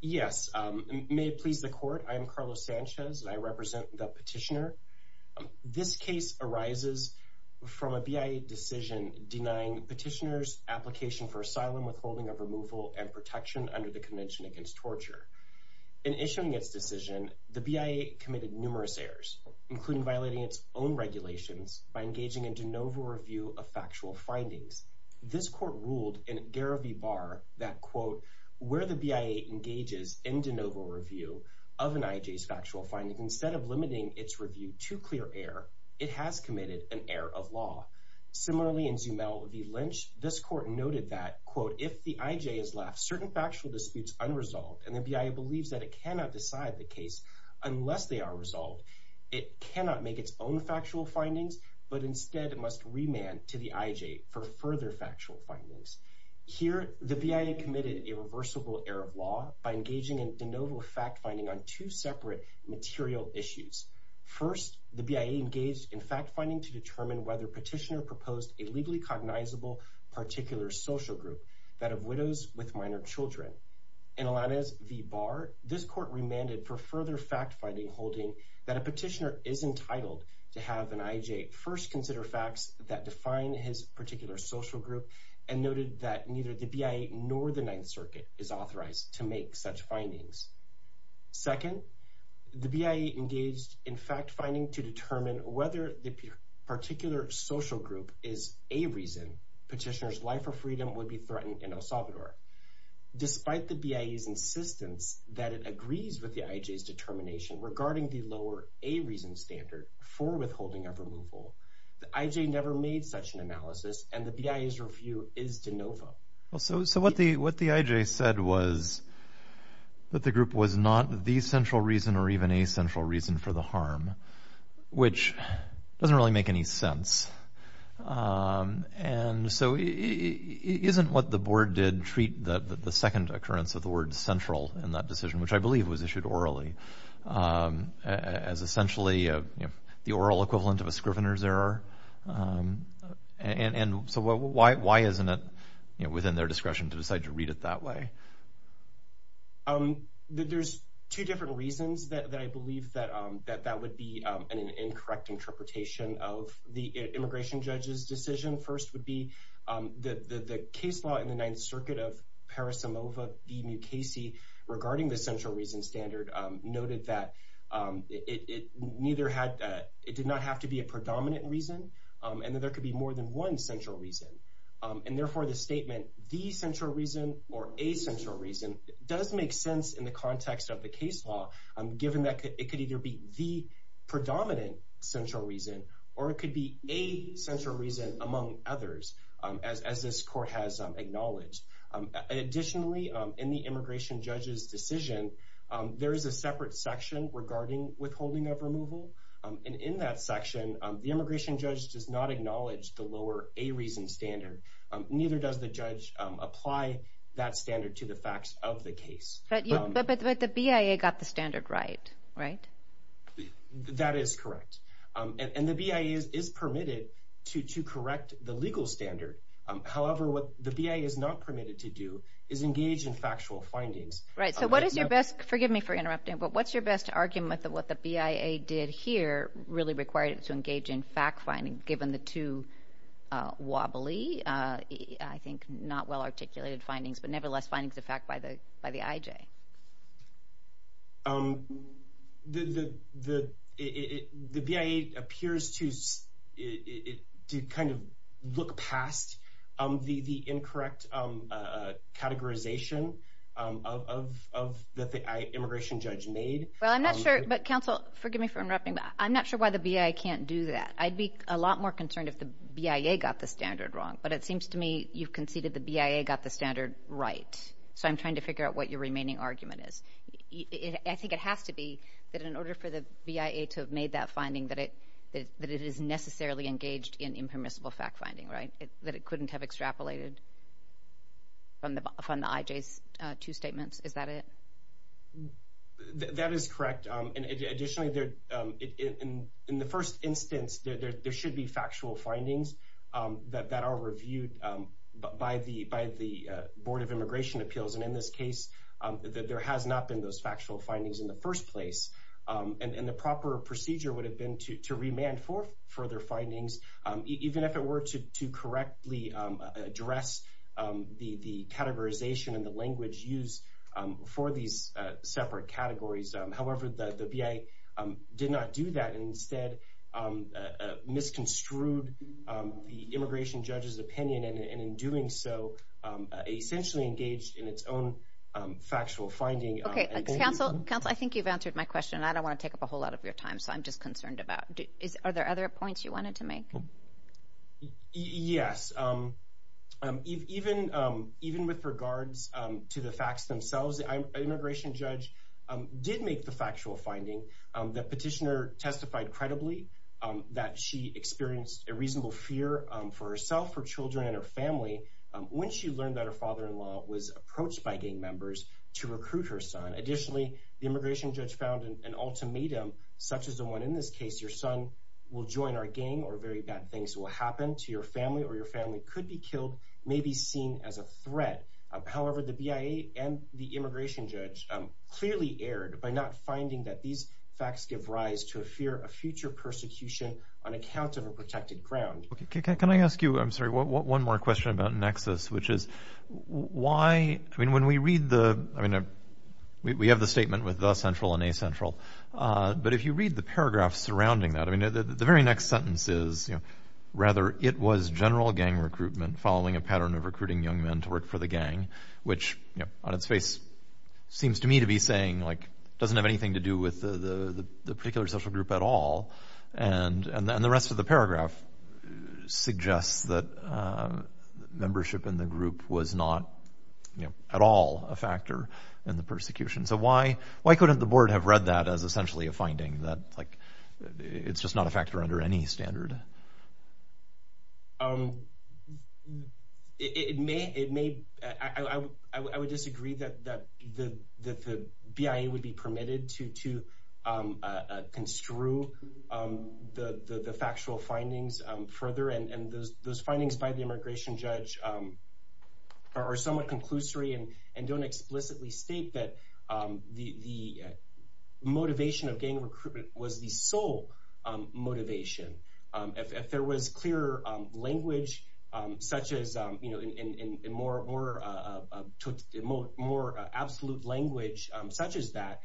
Yes, may it please the court, I am Carlos Sanchez and I represent the petitioner. This case arises from a BIA decision denying petitioners application for asylum withholding of removal and protection under the Convention Against Torture. In issuing its decision, the BIA committed numerous errors, including violating its own regulations by engaging in de novo review of factual findings. This court ruled in Garreau v. Barr that, quote, where the BIA engages in de novo review of an IJ's factual findings, instead of limiting its review to clear error, it has committed an error of law. Similarly, in Zumell v. Lynch, this court noted that, quote, if the IJ has left certain factual disputes unresolved and the BIA believes that it cannot decide the case unless they are resolved, it cannot make its own factual findings, but instead must remand to the IJ for further factual findings. Here, the BIA committed a reversible error of law by engaging in de novo fact-finding on two separate material issues. First, the BIA engaged in fact-finding to determine whether petitioner proposed a legally cognizable particular social group that of widows with minor children. In Alanes v. Barr, this court remanded for further fact-finding holding that a petitioner is entitled to have an IJ first consider facts that define his particular social group and noted that neither the BIA nor the Ninth Circuit is authorized to make such findings. Second, the BIA engaged in fact-finding to determine whether the particular social group is a reason petitioner's life or freedom would be threatened in El Salvador. Despite the BIA's insistence that it agrees with the IJ's determination regarding the lower A reason standard for withholding of removal, the IJ never made such an analysis and the BIA's review is de novo. So what the IJ said was that the group was not the central reason or even a central reason for the harm, which doesn't really make any sense. And so it isn't what the board did treat the second occurrence of the word central in that as essentially the oral equivalent of a scrivener's error. And so why isn't it within their discretion to decide to read it that way? There's two different reasons that I believe that that would be an incorrect interpretation of the immigration judge's decision. First would be that the case law in the Ninth Circuit of Parisimova v. Mukasey regarding the central reason standard noted that it did not have to be a predominant reason and that there could be more than one central reason. And therefore the statement the central reason or a central reason does make sense in the context of the case law given that it could either be the predominant central reason or it could be a central reason among others as this court has acknowledged. Additionally, in the immigration judge's decision, there is a separate section regarding withholding of removal. And in that section, the immigration judge does not acknowledge the lower a reason standard. Neither does the judge apply that standard to the facts of the case. But the BIA got the standard right, right? That is correct. And the BIA is permitted to correct the legal standard. However, what the BIA is not permitted to do is engage in factual findings. Right. So what is your best, forgive me for interrupting, but what's your best argument that what the BIA did here really required it to engage in fact finding given the two wobbly, I think not well articulated findings, but nevertheless findings of fact by the IJ? The BIA appears to kind of look past the incorrect categorization of the immigration Well, I'm not sure. But counsel, forgive me for interrupting, but I'm not sure why the BIA can't do that. I'd be a lot more concerned if the BIA got the standard wrong. But it seems to me you've conceded the BIA got the standard right. So I'm trying to figure out what your remaining argument is. I think it has to be that in order for the BIA to have made that finding that it is necessarily engaged in impermissible fact finding, right? That it couldn't have extrapolated from the IJ's two statements. Is that it? That is correct. And additionally, in the first instance, there should be factual findings that are reviewed by the Board of Immigration Appeals. And in this case, there has not been those factual findings in the first place. And the proper procedure would have been to remand for further findings, even if it were to correctly address the categorization and the language used for these separate categories. However, the BIA did not do that. And instead, misconstrued the immigration judge's opinion, and in doing so, essentially engaged in its own factual finding. Okay. Counsel, I think you've answered my question, and I don't want to take up a whole lot of your time. So I'm just concerned about it. Are there other points you wanted to make? Yes. Even with regards to the facts themselves, the immigration judge did make the factual finding. The petitioner testified credibly that she experienced a reasonable fear for herself, her children, and her family when she learned that her father-in-law was approached by gang members to recruit her son. Additionally, the immigration judge found an ultimatum, such as the one in this case, your son will join our gang or very bad things will happen to your family or your family could be killed, may be seen as a threat. However, the BIA and the immigration judge clearly erred by not finding that these facts give rise to a fear of future persecution on account of a protected ground. Okay. Can I ask you, I'm sorry, one more question about nexus, which is why, I mean, when we read the, I mean, we have the statement with the central and a central, but if you read the paragraph surrounding that, I mean, the very next sentence is, rather, it was general gang recruitment following a pattern of recruiting young men to work for the gang, which on its face seems to me to be saying, like, doesn't have anything to do with the particular social group at all. And the rest of the paragraph suggests that membership in the group was not at all a factor in the persecution. So why couldn't the board have read that as essentially a finding that, like, it's just not a factor under any standard? It may, I would disagree that the BIA would be permitted to construe the factual findings further, and those findings by the immigration judge are somewhat conclusory and don't explicitly state that the motivation of gang recruitment was the sole motivation. If there was clear language such as, you know, and more absolute language such as that,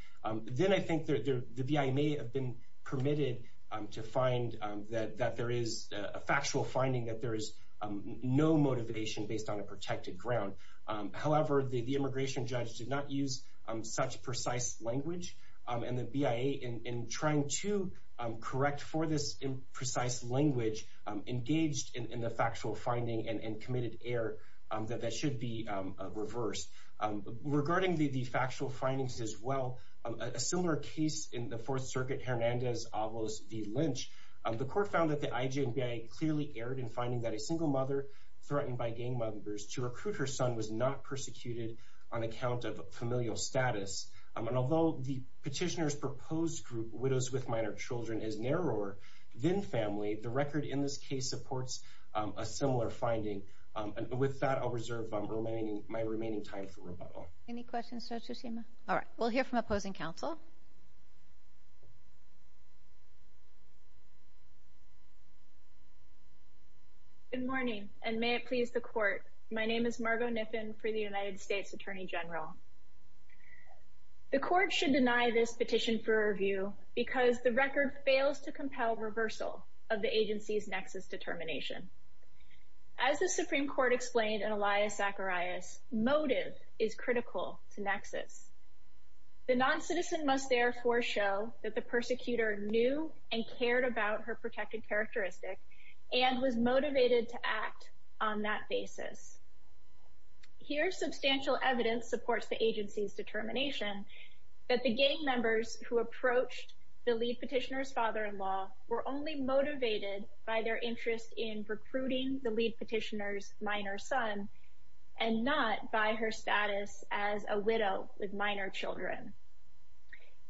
then I think the BIA may have been permitted to find that there is a factual finding that there is no motivation based on a protected ground. However, the immigration judge did not use such precise language, and the BIA, in trying to correct for this imprecise language, engaged in the factual finding and committed error that that should be reversed. Regarding the factual findings as well, a similar case in the Fourth Circuit, Hernandez Avalos v. Lynch, the court found that the IJ and BIA clearly erred in finding that a person was not persecuted on account of familial status, and although the petitioner's proposed group, widows with minor children, is narrower than family, the record in this case supports a similar finding, and with that, I'll reserve my remaining time for rebuttal. Any questions, Judge Tsushima? All right. We'll hear from opposing counsel. Good morning, and may it please the court. My name is Margot Kniffen for the United States Attorney General. The court should deny this petition for review because the record fails to compel reversal of the agency's nexus determination. As the Supreme Court explained in Elias Zacharias, motive is critical to nexus. The noncitizen must therefore show that the persecutor knew and cared about her protected characteristic, and was motivated to act on that basis. Here substantial evidence supports the agency's determination that the gang members who approached the lead petitioner's father-in-law were only motivated by their interest in recruiting the lead petitioner's minor son, and not by her status as a widow with minor children.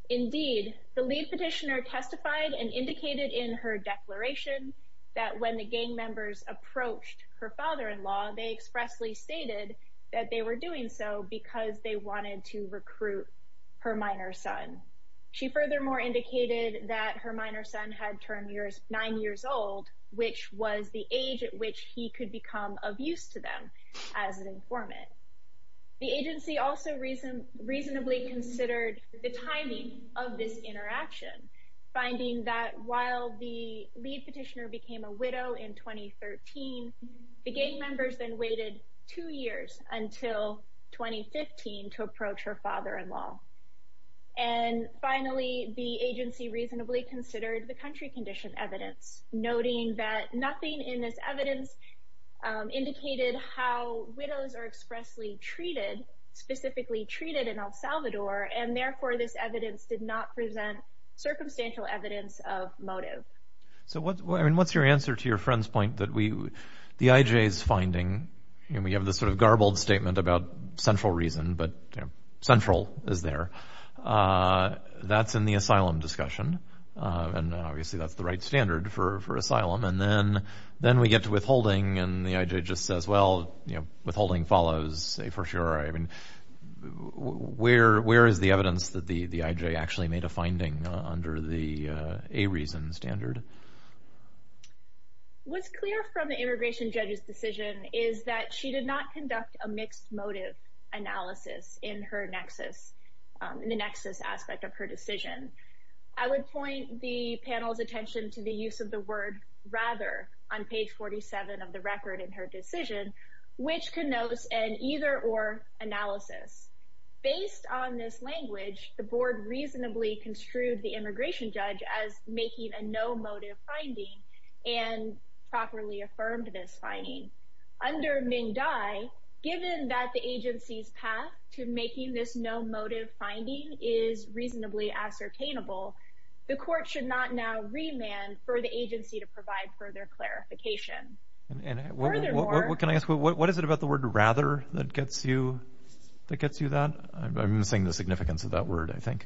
Indeed, the lead petitioner testified and indicated in her declaration that when the gang members approached her father-in-law, they expressly stated that they were doing so because they wanted to recruit her minor son. She furthermore indicated that her minor son had turned nine years old, which was the age at which he could become of use to them as an informant. The agency also reasonably considered the timing of this interaction, finding that while the lead petitioner became a widow in 2013, the gang members then waited two years until 2015 to approach her father-in-law. And finally, the agency reasonably considered the country condition evidence, noting that widows are expressly treated, specifically treated in El Salvador, and therefore this evidence did not present circumstantial evidence of motive. So what's your answer to your friend's point that the IJ is finding, and we have this sort of garbled statement about central reason, but central is there. That's in the asylum discussion, and obviously that's the right standard for asylum. And then we get to withholding, and the IJ just says, well, withholding follows, say for sure. I mean, where is the evidence that the IJ actually made a finding under the A reason standard? What's clear from the immigration judge's decision is that she did not conduct a mixed motive analysis in her nexus, in the nexus aspect of her decision. I would point the panel's attention to the use of the word rather on page 47 of the record in her decision, which connotes an either or analysis. Based on this language, the board reasonably construed the immigration judge as making a no motive finding and properly affirmed this finding. Under Ming Dai, given that the agency's path to making this no motive finding is reasonably ascertainable, the court should not now remand for the agency to provide further clarification. And furthermore... Can I ask, what is it about the word rather that gets you that gets you that? I'm missing the significance of that word, I think.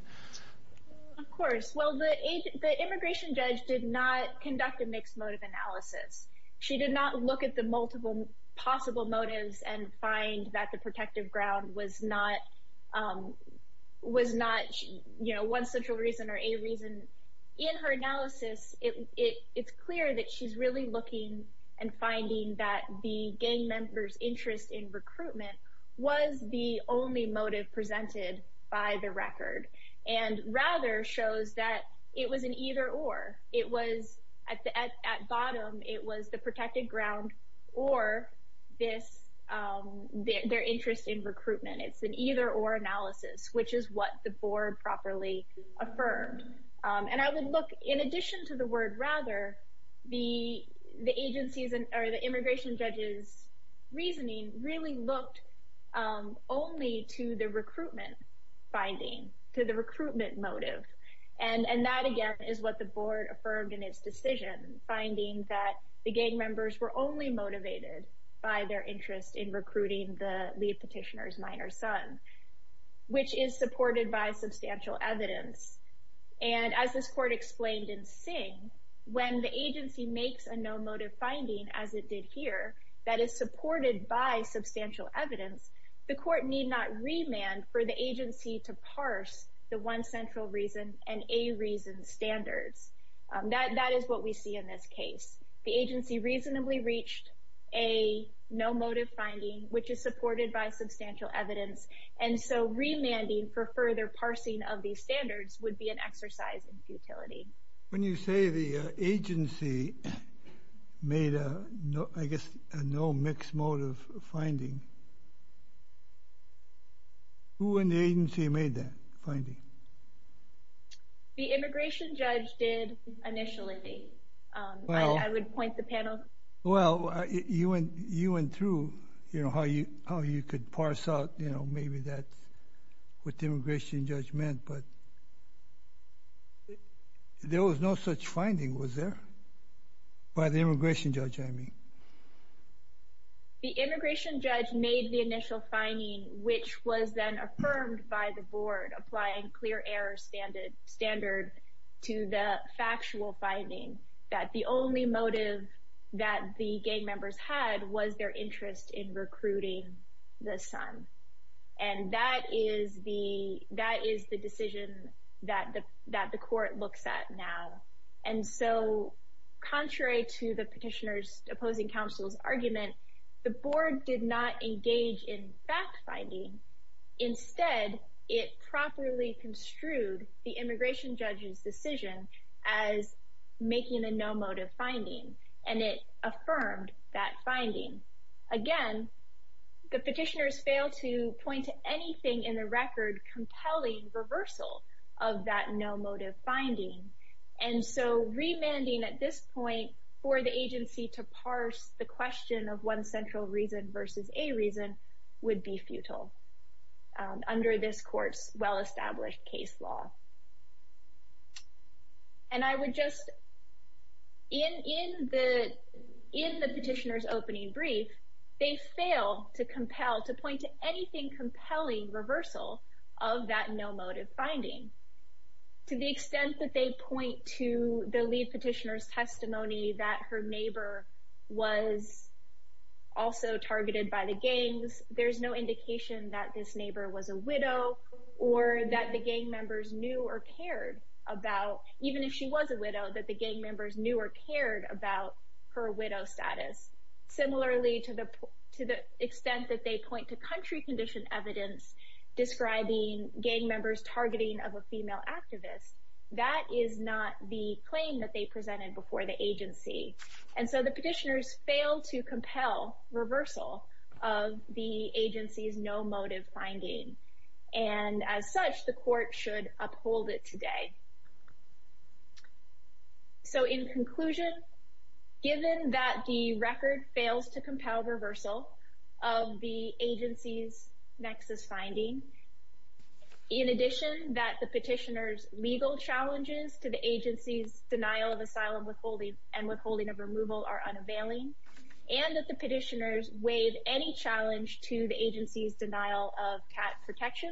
Of course. Well, the immigration judge did not conduct a mixed motive analysis. She did not look at the multiple possible motives and find that the protective ground was not one central reason or a reason. In her analysis, it's clear that she's really looking and finding that the gang member's interest in recruitment was the only motive presented by the record. And rather shows that it was an either or. It was at the bottom, it was the protected ground or their interest in recruitment. It's an either or analysis, which is what the board properly affirmed. And I would look, in addition to the word rather, the agency's or the immigration judge's reasoning really looked only to the recruitment finding, to the recruitment motive. And that, again, is what the board affirmed in its decision, finding that the gang members were only motivated by their interest in recruiting the lead petitioner's minor son, which is supported by substantial evidence. And as this court explained in Singh, when the agency makes a no motive finding, as it did here, that is supported by substantial evidence, the court need not remand for the reason and a reason standards. That is what we see in this case. The agency reasonably reached a no motive finding, which is supported by substantial evidence. And so remanding for further parsing of these standards would be an exercise in futility. When you say the agency made a, I guess, a no mix motive finding, who in the agency made that finding? The immigration judge did initially. I would point the panel. Well, you went through how you could parse out, you know, maybe that's what the immigration judge meant, but there was no such finding, was there? By the immigration judge, I mean. The immigration judge made the initial finding, which was then affirmed by the board, applying clear error standard to the factual finding that the only motive that the gang members had was their interest in recruiting the son. And that is the decision that the court looks at now. And so contrary to the petitioner's opposing counsel's argument, the board did not engage in fact finding. Instead, it properly construed the immigration judge's decision as making a no motive finding, and it affirmed that finding. Again, the petitioners failed to point to anything in the record compelling reversal of that no motive finding. And so remanding at this point for the agency to parse the question of one central reason versus a reason would be futile under this court's well-established case law. And I would just, in the petitioner's opening brief, they failed to point to anything compelling reversal of that no motive finding. To the extent that they point to the lead petitioner's testimony that her neighbor was also targeted by the gangs, there's no indication that this neighbor was a widow or that the gang members knew or cared about, even if she was a widow, that the gang members knew or cared about her widow status. Similarly, to the extent that they point to country condition evidence describing gang members targeting of a female activist, that is not the claim that they presented before the agency. And so the petitioners failed to compel reversal of the agency's no motive finding. And as such, the court should uphold it today. So in conclusion, given that the record fails to compel reversal of the agency's nexus finding, in addition that the petitioner's legal challenges to the agency's denial of asylum withholding and withholding of removal are unavailing, and that the petitioners waive any challenge to the agency's denial of CAT protection,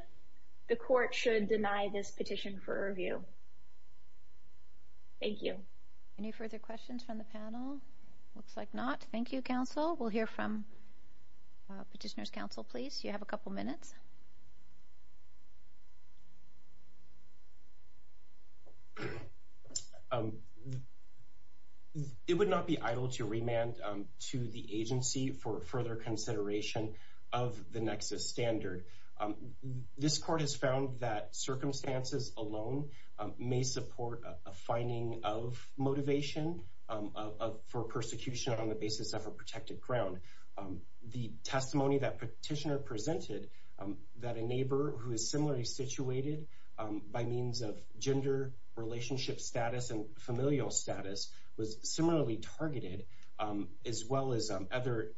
the court should deny this petition for review. Thank you. Any further questions from the panel? Looks like not. Thank you, counsel. We'll hear from petitioner's counsel, please. You have a couple minutes. It would not be idle to remand to the agency for further consideration of the nexus standard. This court has found that circumstances alone may support a finding of motivation for persecution on the basis of a protected ground. The testimony that petitioner presented, that a neighbor who is similarly situated by means of gender relationship status and familial status was similarly targeted, as well as other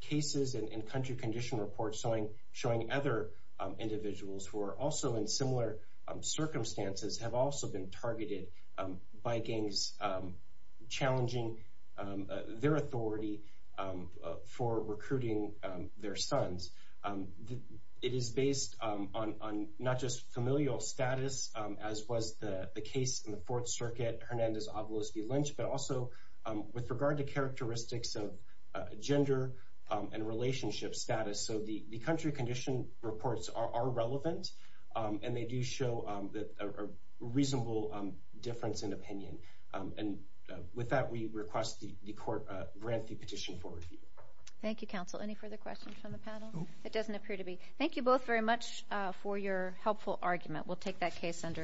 individuals who are also in similar circumstances have also been targeted by gangs challenging their authority for recruiting their sons, it is based on not just familial status, as was the case in the Fourth Circuit, Hernandez-Avalos v. Lynch, but also with regard to characteristics of gender and relationship status. So the country condition reports are relevant, and they do show a reasonable difference in opinion. And with that, we request the court grant the petition for review. Thank you, counsel. Any further questions from the panel? It doesn't appear to be. Thank you both very much for your helpful argument. We'll take that case under advisement.